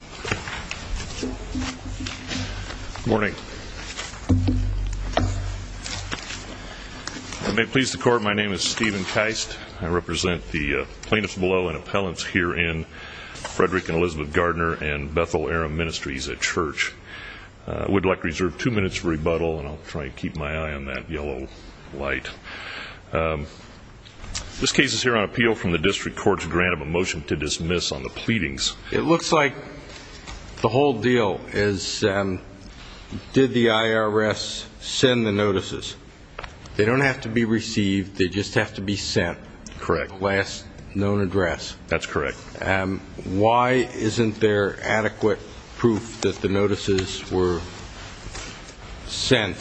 Good morning. I may please the court, my name is Stephen Keist. I represent the plaintiffs below and appellants here in Frederick and Elizabeth Gardner and Bethel Aram Ministries at Church. I would like to reserve two minutes for rebuttal and I'll try to keep my eye on that yellow light. This case is here on appeal from the district court's grant of a motion to dismiss on the pleadings. It looks like the whole deal is did the IRS send the notices? They don't have to be received, they just have to be sent. Correct. Last known address. That's correct. Why isn't there adequate proof that the notices were sent?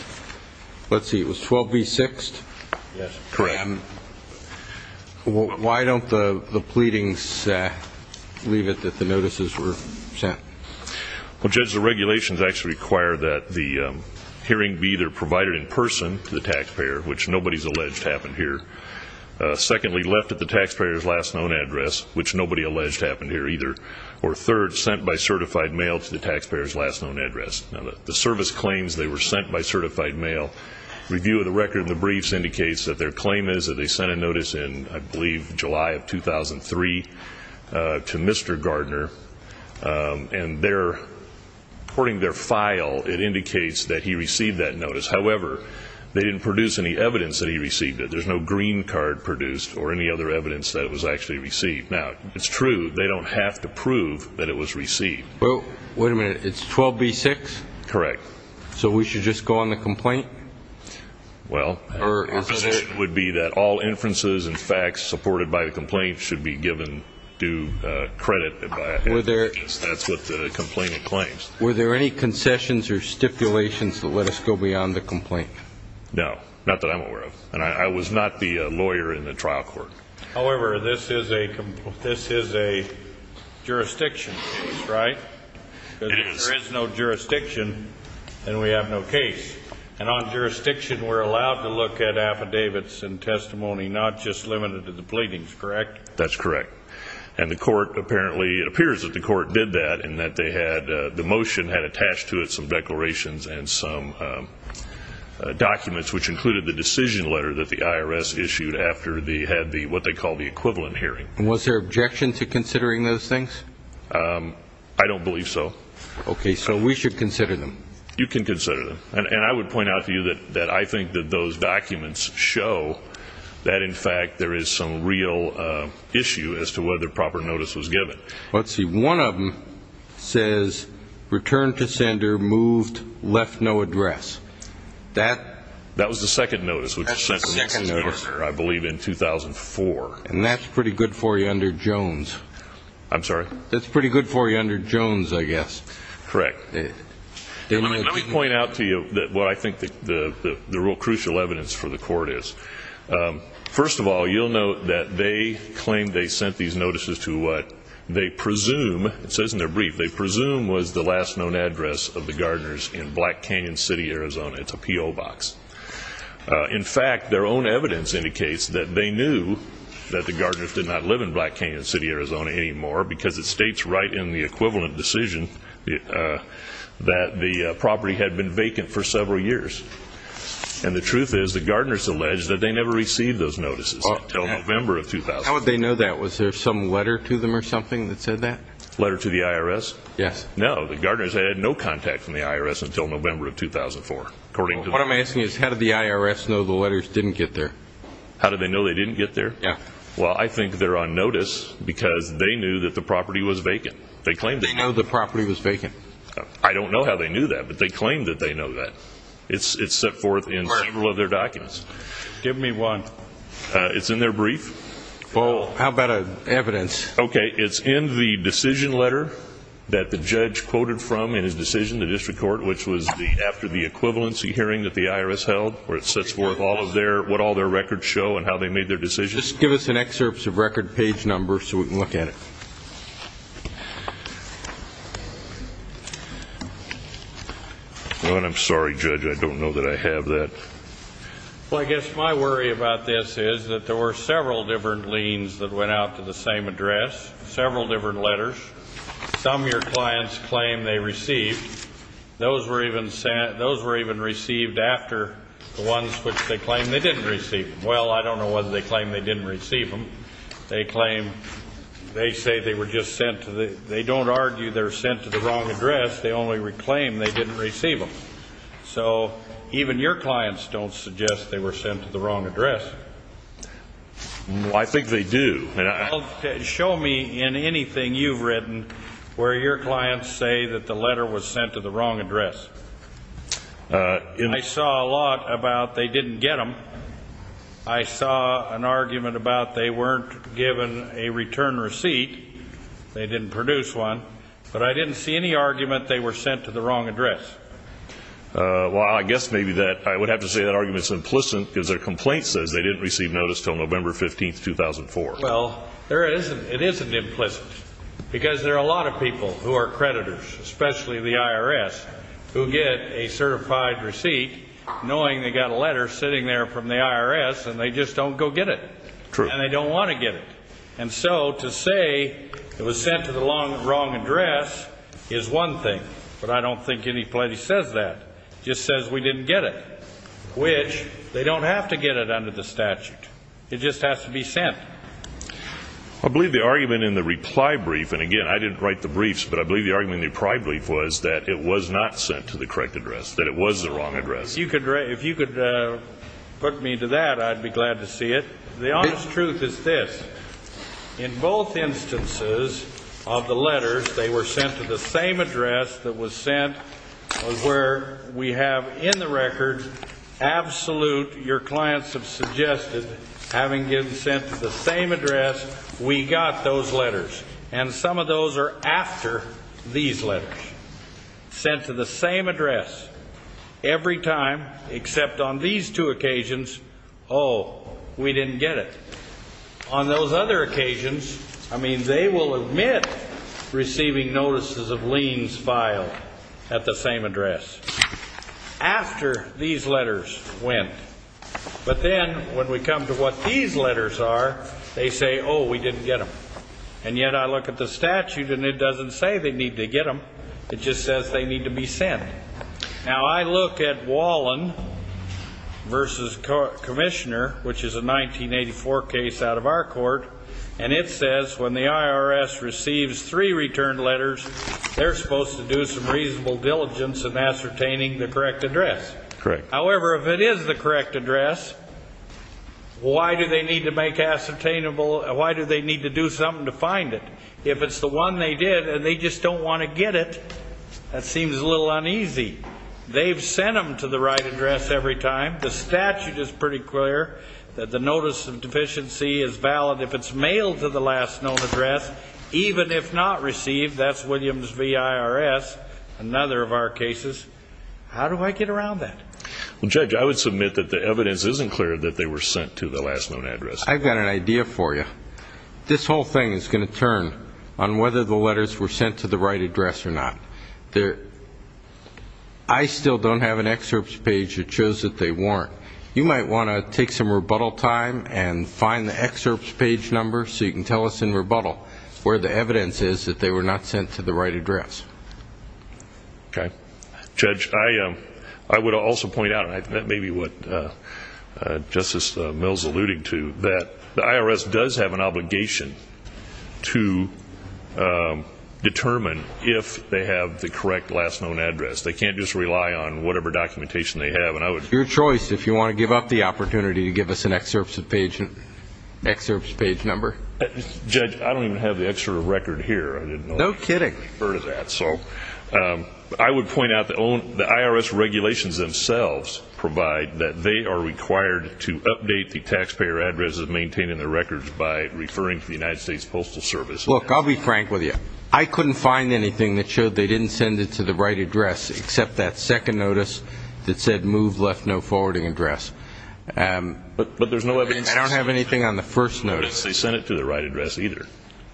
Let's see, it was 12 v. 6? Yes, correct. Why don't the pleadings leave it that the notices were sent? Well, Judge, the regulations actually require that the hearing be either provided in person to the taxpayer, which nobody's alleged happened here, secondly, left at the taxpayer's last known address, which nobody alleged happened here either, or third, sent by certified mail to the taxpayer's last known address. The service claims they were sent by certified mail. Review of the record in the briefs indicates that their claim is that they sent a notice in, I believe, July of 2003 to Mr. Gardner, and according to their file, it indicates that he received that notice. However, they didn't produce any evidence that he received it. There's no green card produced or any other evidence that it was actually received. Now, it's true, they don't have to prove that it was received. Well, wait a minute, it's 12 v. 6? Correct. So we should just go on the complaint? Well, our position would be that all inferences and facts supported by the complaint should be given due credit. That's what the complainant claims. Were there any concessions or stipulations that let us go beyond the complaint? No, not that I'm aware of, and I was not the lawyer in the trial court. However, this is a jurisdiction case, right? Because if there is no jurisdiction, then we have no case. And on jurisdiction, we're allowed to look at affidavits and testimony, not just limited to the pleadings, correct? That's correct. And the court apparently, it appears that the court did that, in that the motion had attached to it some declarations and some documents, which included the decision letter that the IRS issued after they had what they call the equivalent hearing. And was there objection to considering those things? I don't believe so. Okay, so we should consider them. You can consider them. And I would point out to you that I think that those documents show that, in fact, there is some real issue as to whether proper notice was given. Let's see, one of them says, return to sender, moved, left no address. That? That was the second notice. That's the second notice. I believe in 2004. And that's pretty good for you under Jones. I'm sorry? That's pretty good for you under Jones, I guess. Correct. Let me point out to you what I think the real crucial evidence for the court is. First of all, you'll note that they claim they sent these notices to what they presume, it says in their brief, what they presume was the last known address of the gardeners in Black Canyon City, Arizona. It's a P.O. box. In fact, their own evidence indicates that they knew that the gardeners did not live in Black Canyon City, Arizona anymore because it states right in the equivalent decision that the property had been vacant for several years. And the truth is the gardeners allege that they never received those notices until November of 2004. How would they know that? Was there some letter to them or something that said that? Letter to the IRS? Yes. No, the gardeners had no contact from the IRS until November of 2004. What I'm asking is how did the IRS know the letters didn't get there? How did they know they didn't get there? Well, I think they're on notice because they knew that the property was vacant. They know the property was vacant. I don't know how they knew that, but they claim that they know that. It's set forth in several of their documents. Give me one. It's in their brief. Well, how about evidence? Okay, it's in the decision letter that the judge quoted from in his decision, the district court, which was after the equivalency hearing that the IRS held where it sets forth what all their records show and how they made their decisions. Just give us an excerpt of record page number so we can look at it. I'm sorry, Judge, I don't know that I have that. Well, I guess my worry about this is that there were several different liens that went out to the same address, several different letters, some your clients claim they received. Those were even received after the ones which they claim they didn't receive. Well, I don't know whether they claim they didn't receive them. They claim they say they were just sent to the they don't argue they were sent to the wrong address. They only claim they didn't receive them. So even your clients don't suggest they were sent to the wrong address. I think they do. Show me in anything you've written where your clients say that the letter was sent to the wrong address. I saw a lot about they didn't get them. I saw an argument about they weren't given a return receipt, they didn't produce one, but I didn't see any argument they were sent to the wrong address. Well, I guess maybe that I would have to say that argument is implicit because their complaint says they didn't receive notice until November 15, 2004. Well, it isn't implicit because there are a lot of people who are creditors, especially the IRS, who get a certified receipt knowing they've got a letter sitting there from the IRS and they just don't go get it. True. And they don't want to get it. And so to say it was sent to the wrong address is one thing, but I don't think any place says that. It just says we didn't get it, which they don't have to get it under the statute. It just has to be sent. I believe the argument in the reply brief, and again, I didn't write the briefs, but I believe the argument in the reply brief was that it was not sent to the correct address, that it was the wrong address. If you could put me to that, I'd be glad to see it. The honest truth is this. In both instances of the letters, they were sent to the same address that was sent where we have in the record absolute, your clients have suggested, having been sent to the same address, we got those letters. And some of those are after these letters. Sent to the same address. Every time except on these two occasions, oh, we didn't get it. On those other occasions, I mean, they will admit receiving notices of liens filed at the same address. After these letters went. But then when we come to what these letters are, they say, oh, we didn't get them. And yet I look at the statute and it doesn't say they need to get them. It just says they need to be sent. Now, I look at Wallen v. Commissioner, which is a 1984 case out of our court, and it says when the IRS receives three return letters, they're supposed to do some reasonable diligence in ascertaining the correct address. However, if it is the correct address, why do they need to make ascertainable, why do they need to do something to find it? If it's the one they did and they just don't want to get it, that seems a little uneasy. They've sent them to the right address every time. The statute is pretty clear that the notice of deficiency is valid if it's mailed to the last known address. Even if not received, that's Williams v. IRS, another of our cases. How do I get around that? Well, Judge, I would submit that the evidence isn't clear that they were sent to the last known address. I've got an idea for you. This whole thing is going to turn on whether the letters were sent to the right address or not. I still don't have an excerpts page that shows that they weren't. You might want to take some rebuttal time and find the excerpts page number so you can tell us in rebuttal where the evidence is that they were not sent to the right address. Okay. Judge, I would also point out, and that may be what Justice Mills alluded to, that the IRS does have an obligation to determine if they have the correct last known address. They can't just rely on whatever documentation they have. It's your choice if you want to give up the opportunity to give us an excerpts page number. Judge, I don't even have the excerpt of record here. No kidding. I would point out the IRS regulations themselves provide that they are required to update the taxpayer addresses maintaining their records by referring to the United States Postal Service. Look, I'll be frank with you. I couldn't find anything that showed they didn't send it to the right address, except that second notice that said move left no forwarding address. But there's no evidence. I don't have anything on the first notice. They sent it to the right address either.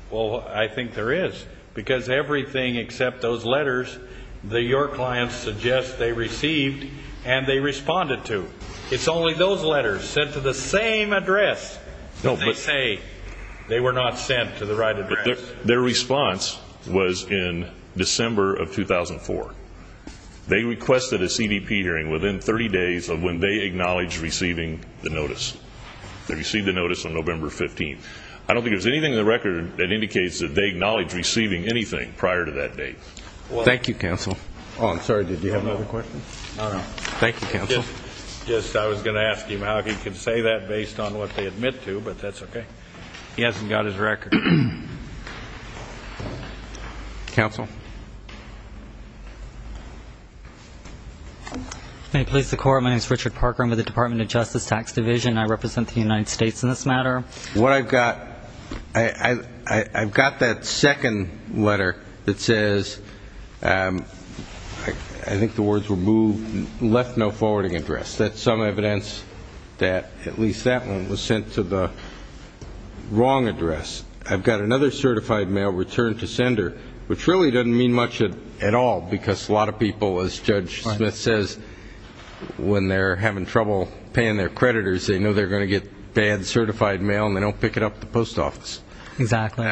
Well, I think there is. Because everything except those letters that your clients suggest they received and they responded to. It's only those letters sent to the same address that they say they were not sent to the right address. Their response was in December of 2004. They requested a CDP hearing within 30 days of when they acknowledged receiving the notice. They received the notice on November 15th. I don't think there's anything in the record that indicates that they acknowledged receiving anything prior to that date. Thank you, counsel. Oh, I'm sorry. Did you have another question? No, no. Thank you, counsel. Just I was going to ask him how he can say that based on what they admit to, but that's okay. He hasn't got his record. Counsel. Police Department. My name is Richard Parker. I'm with the Department of Justice Tax Division. I represent the United States in this matter. What I've got, I've got that second letter that says, I think the words were moved, left no forwarding address. That's some evidence that at least that one was sent to the wrong address. I've got another certified mail returned to sender, which really doesn't mean much at all, because a lot of people, as Judge Smith says, when they're having trouble paying their creditors, they know they're going to get bad certified mail and they don't pick it up at the post office. Exactly.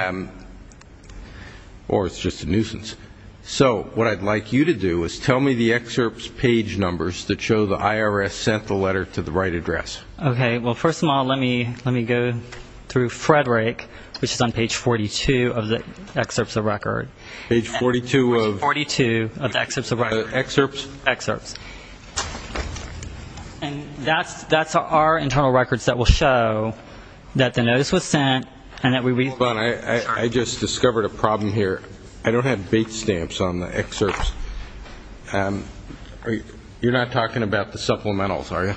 Or it's just a nuisance. So what I'd like you to do is tell me the excerpts page numbers that show the IRS sent the letter to the right address. Okay. Well, first of all, let me go through Frederick, which is on page 42 of the excerpts of record. Page 42 of? Page 42 of the excerpts of record. Excerpts? Excerpts. And that's our internal records that will show that the notice was sent and that we read. I just discovered a problem here. I don't have bait stamps on the excerpts. You're not talking about the supplementals, are you?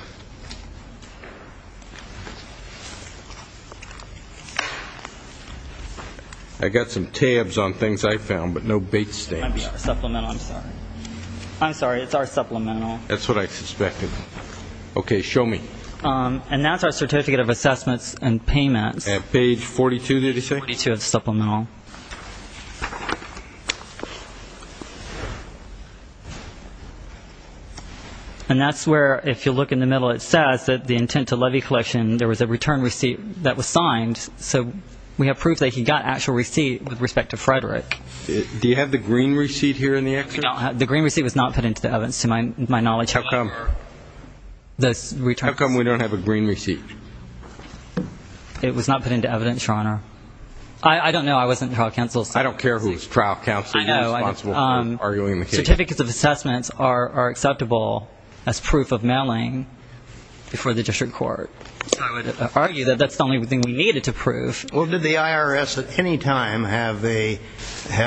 I got some tabs on things I found, but no bait stamps. Supplemental. I'm sorry. I'm sorry. It's our supplemental. That's what I suspected. Okay. Show me. And that's our certificate of assessments and payments. At page 42, did he say? Page 42 of the supplemental. And that's where, if you look in the middle, it says that the intent to levy collection, there was a return receipt that was signed. So we have proof that he got actual receipt with respect to Frederick. Do you have the green receipt here in the excerpt? The green receipt was not put into the evidence, to my knowledge. How come? How come we don't have a green receipt? It was not put into evidence, Your Honor. I don't know. I wasn't in trial counsel. I don't care who's trial counsel. I know. You're responsible for arguing the case. Certificates of assessments are acceptable as proof of mailing before the district court. I would argue that that's the only thing we needed to prove. Well, did the IRS at any time have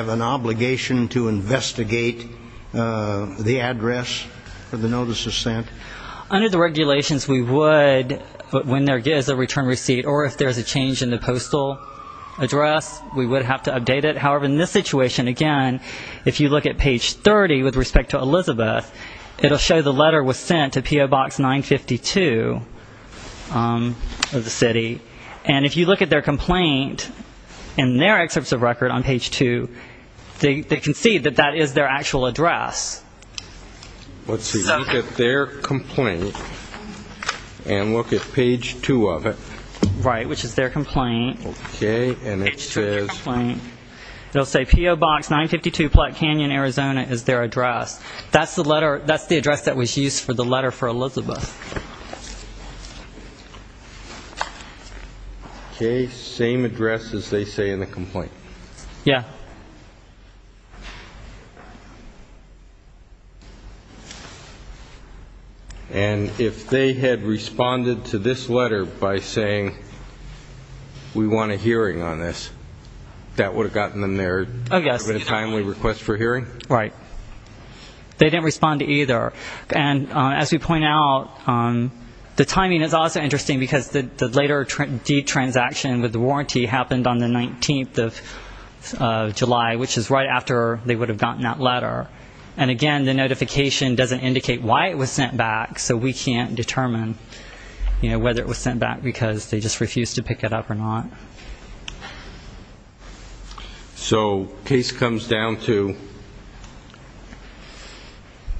an obligation to investigate the address of the notices sent? Under the regulations, we would, when there is a return receipt, or if there is a change in the postal address, we would have to update it. However, in this situation, again, if you look at page 30 with respect to Elizabeth, it will show the letter was sent to PO Box 952 of the city. And if you look at their complaint in their excerpts of record on page 2, they can see that that is their actual address. Let's see. Look at their complaint and look at page 2 of it. Right, which is their complaint. Okay. And it says PO Box 952 Platt Canyon, Arizona is their address. That's the address that was used for the letter for Elizabeth. Okay, same address as they say in the complaint. Yeah. And if they had responded to this letter by saying we want a hearing on this, that would have gotten them their timely request for hearing? Right. They didn't respond to either. And as we point out, the timing is also interesting because the later deed transaction with the warranty happened on the 19th of July, which is right after they would have gotten that letter. And, again, the notification doesn't indicate why it was sent back, so we can't determine whether it was sent back because they just refused to pick it up or not. Okay. So case comes down to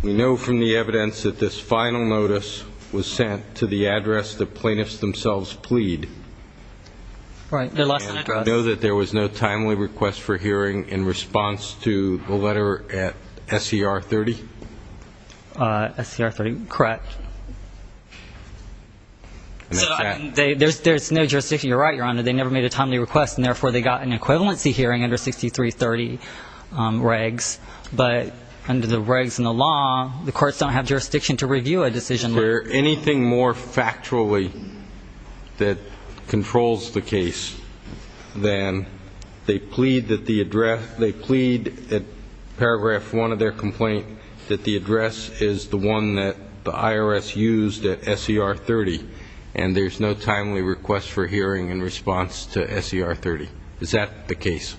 we know from the evidence that this final notice was sent to the address the plaintiffs themselves plead. Right, their last address. And we know that there was no timely request for hearing in response to the letter at SER 30? SER 30, correct. So there's no jurisdiction. You're right, Your Honor, they never made a timely request, and therefore they got an equivalency hearing under 6330 regs. But under the regs in the law, the courts don't have jurisdiction to review a decision. Is there anything more factually that controls the case than they plead that the address, they plead at paragraph one of their complaint that the address is the one that the IRS used at SER 30, and there's no timely request for hearing in response to SER 30? Is that the case?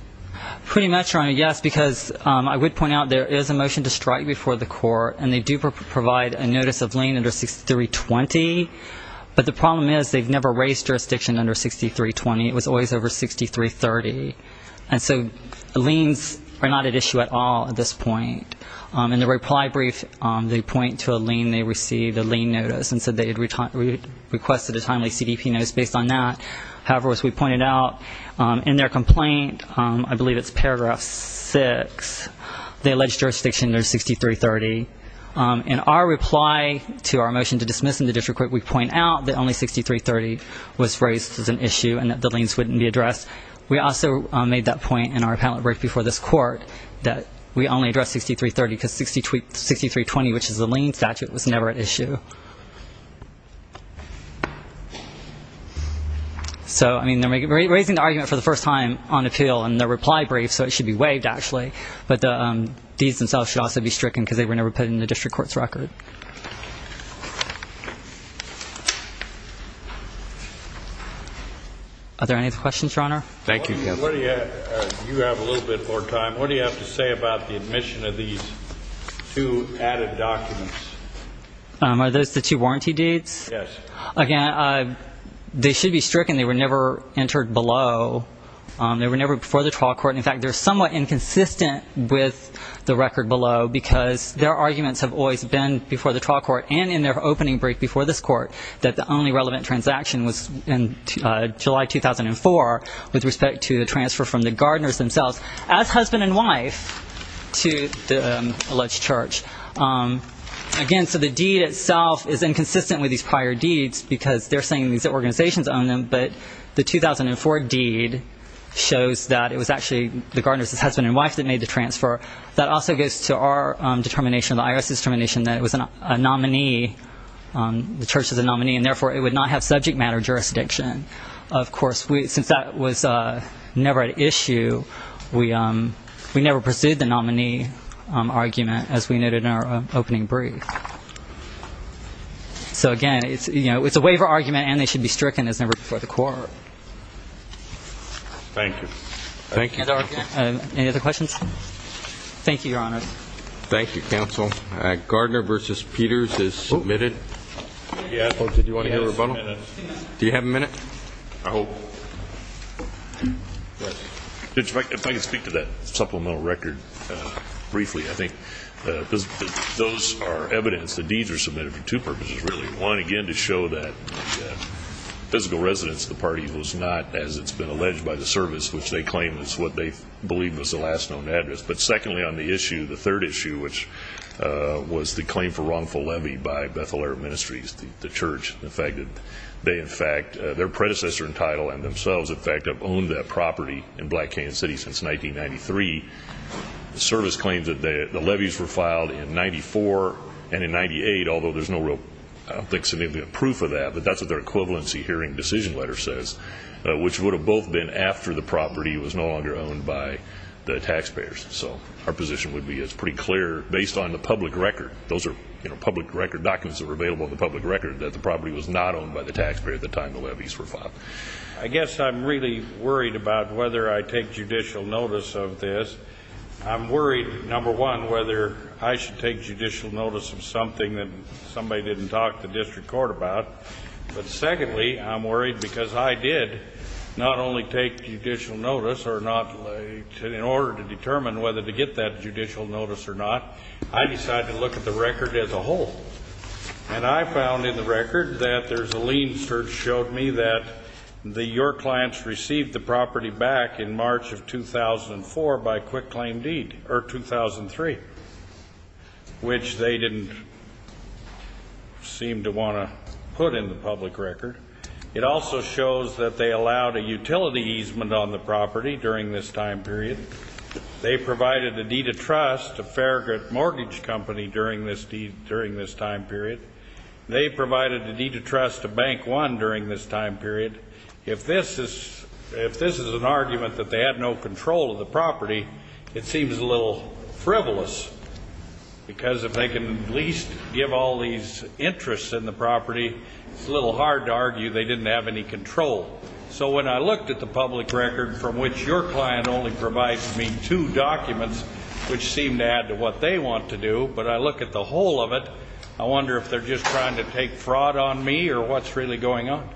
Pretty much, Your Honor, yes, because I would point out there is a motion to strike before the court, and they do provide a notice of lien under 6320. But the problem is they've never raised jurisdiction under 6320. It was always over 6330. And so liens are not at issue at all at this point. In the reply brief, they point to a lien they received, a lien notice, and said they had requested a timely CDP notice based on that. However, as we pointed out, in their complaint, I believe it's paragraph six, they allege jurisdiction under 6330. In our reply to our motion to dismiss in the district court, we point out that only 6330 was raised as an issue and that the liens wouldn't be addressed. We also made that point in our appellate brief before this court that we only addressed 6330 because 6320, which is a lien statute, was never at issue. So, I mean, they're raising the argument for the first time on appeal in their reply brief, so it should be waived, actually, but the deeds themselves should also be stricken because they were never put in the district court's record. Thank you. Are there any questions, Your Honor? Thank you, Kevin. You have a little bit more time. What do you have to say about the admission of these two added documents? Are those the two warranty deeds? Yes. Again, they should be stricken. They were never entered below. They were never before the trial court. In fact, they're somewhat inconsistent with the record below because their arguments have always been before the trial court and in their opening brief before this court that the only relevant transaction was in July 2004 with respect to the transfer from the Gardners themselves as husband and wife to the alleged church. Again, so the deed itself is inconsistent with these prior deeds because they're saying these organizations owned them, but the 2004 deed shows that it was actually the Gardners' husband and wife that made the transfer. That also goes to our determination, the IRS's determination, that it was a nominee, the church was a nominee, and therefore it would not have subject matter jurisdiction. Of course, since that was never an issue, we never pursued the nominee argument, as we noted in our opening brief. Again, it's a waiver argument, and they should be stricken. It was never before the court. Thank you. Thank you. Any other questions? Thank you, Your Honor. Thank you, counsel. Gardner v. Peters is submitted. Yes. Did you want to hear a rebuttal? I hope. If I could speak to that supplemental record briefly, I think. Those are evidence. The deeds were submitted for two purposes, really. One, again, to show that the physical residence of the party was not, as it's been alleged by the service, which they claim is what they believe was the last known address. But secondly on the issue, the third issue, which was the claim for wrongful levy by Bethel Air Ministries, the church, the fact that they, in fact, their predecessor in title and themselves, in fact, have owned that property in Black Canyon City since 1993. The service claims that the levies were filed in 94 and in 98, although there's no real proof of that, but that's what their equivalency hearing decision letter says, which would have both been after the property was no longer owned by the taxpayers. So our position would be it's pretty clear, based on the public record, those are public record documents that were available on the public record, that the property was not owned by the taxpayer at the time the levies were filed. I guess I'm really worried about whether I take judicial notice of this. I'm worried, number one, whether I should take judicial notice of something that somebody didn't talk to district court about. But secondly, I'm worried because I did not only take judicial notice or not, in order to determine whether to get that judicial notice or not, I decided to look at the record as a whole. And I found in the record that there's a lien search showed me that your clients received the property back in March of 2004 by quick claim deed, or 2003, which they didn't seem to want to put in the public record. It also shows that they allowed a utility easement on the property during this time period. They provided a deed of trust to Farragut Mortgage Company during this time period. They provided a deed of trust to Bank One during this time period. If this is an argument that they had no control of the property, it seems a little frivolous. Because if they can at least give all these interests in the property, it's a little hard to argue they didn't have any control. So when I looked at the public record from which your client only provides me two documents, which seem to add to what they want to do, but I look at the whole of it, I wonder if they're just trying to take fraud on me or what's really going on.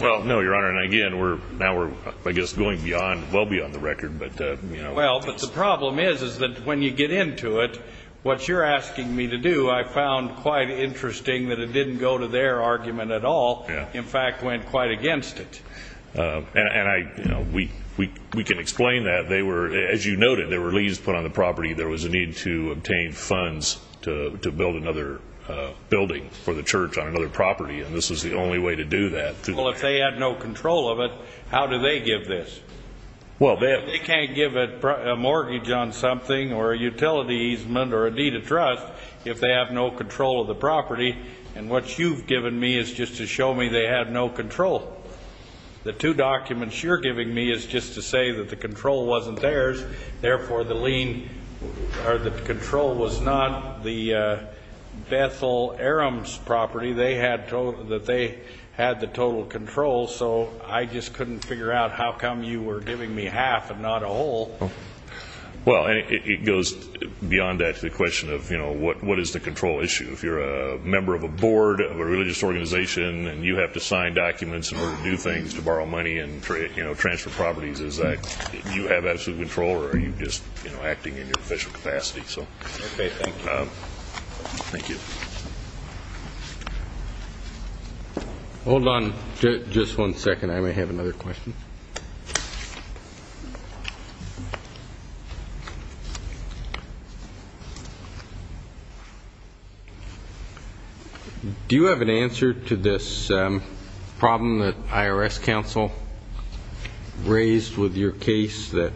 Well, no, Your Honor. And again, now we're, I guess, going beyond, well beyond the record. Well, but the problem is that when you get into it, what you're asking me to do, I found quite interesting that it didn't go to their argument at all. In fact, went quite against it. And I, you know, we can explain that. They were, as you noted, there were leaves put on the property. There was a need to obtain funds to build another building for the church on another property. And this was the only way to do that. Well, if they had no control of it, how do they give this? Well, they have. They can't give a mortgage on something or a utility easement or a deed of trust if they have no control of the property. And what you've given me is just to show me they have no control. The two documents you're giving me is just to say that the control wasn't theirs. Therefore, the lien or the control was not the Bethel Arums property. They had the total control. So I just couldn't figure out how come you were giving me half and not a whole. Well, it goes beyond that to the question of, you know, what is the control issue? If you're a member of a board of a religious organization and you have to sign documents in order to do things to borrow money and, you know, transfer properties, is that you have absolute control or are you just, you know, acting in your official capacity? So thank you. Hold on just one second. I may have another question. Do you have an answer to this problem that IRS counsel raised with your case that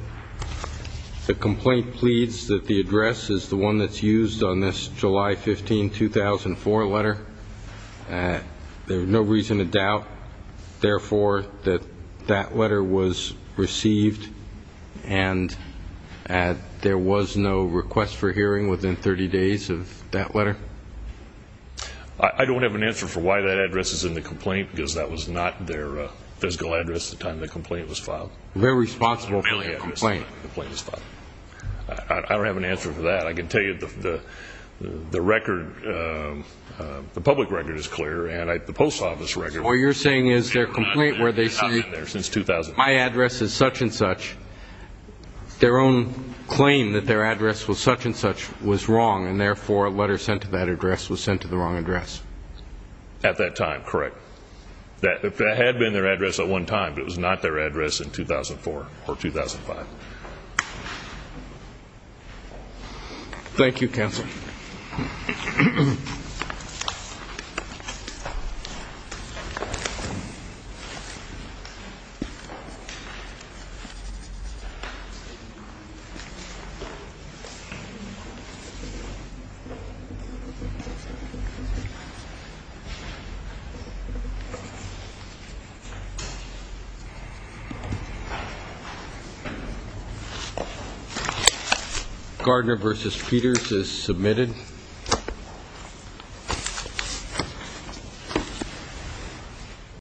the complaint pleads that the address is the one that's used on this July 15, 2004 letter? There's no reason to doubt, therefore, that that letter was received and there was no request for hearing within 30 days of that letter? I don't have an answer for why that address is in the complaint because that was not their physical address at the time the complaint was filed. Very responsible for the complaint. I don't have an answer for that. I can tell you the record, the public record is clear and the post office record. So what you're saying is their complaint where they say my address is such and such, their own claim that their address was such and such was wrong and, therefore, a letter sent to that address was sent to the wrong address? At that time, correct. That had been their address at one time, but it was not their address in 2004 or 2005. Thank you. Gardner v. Peters is submitted.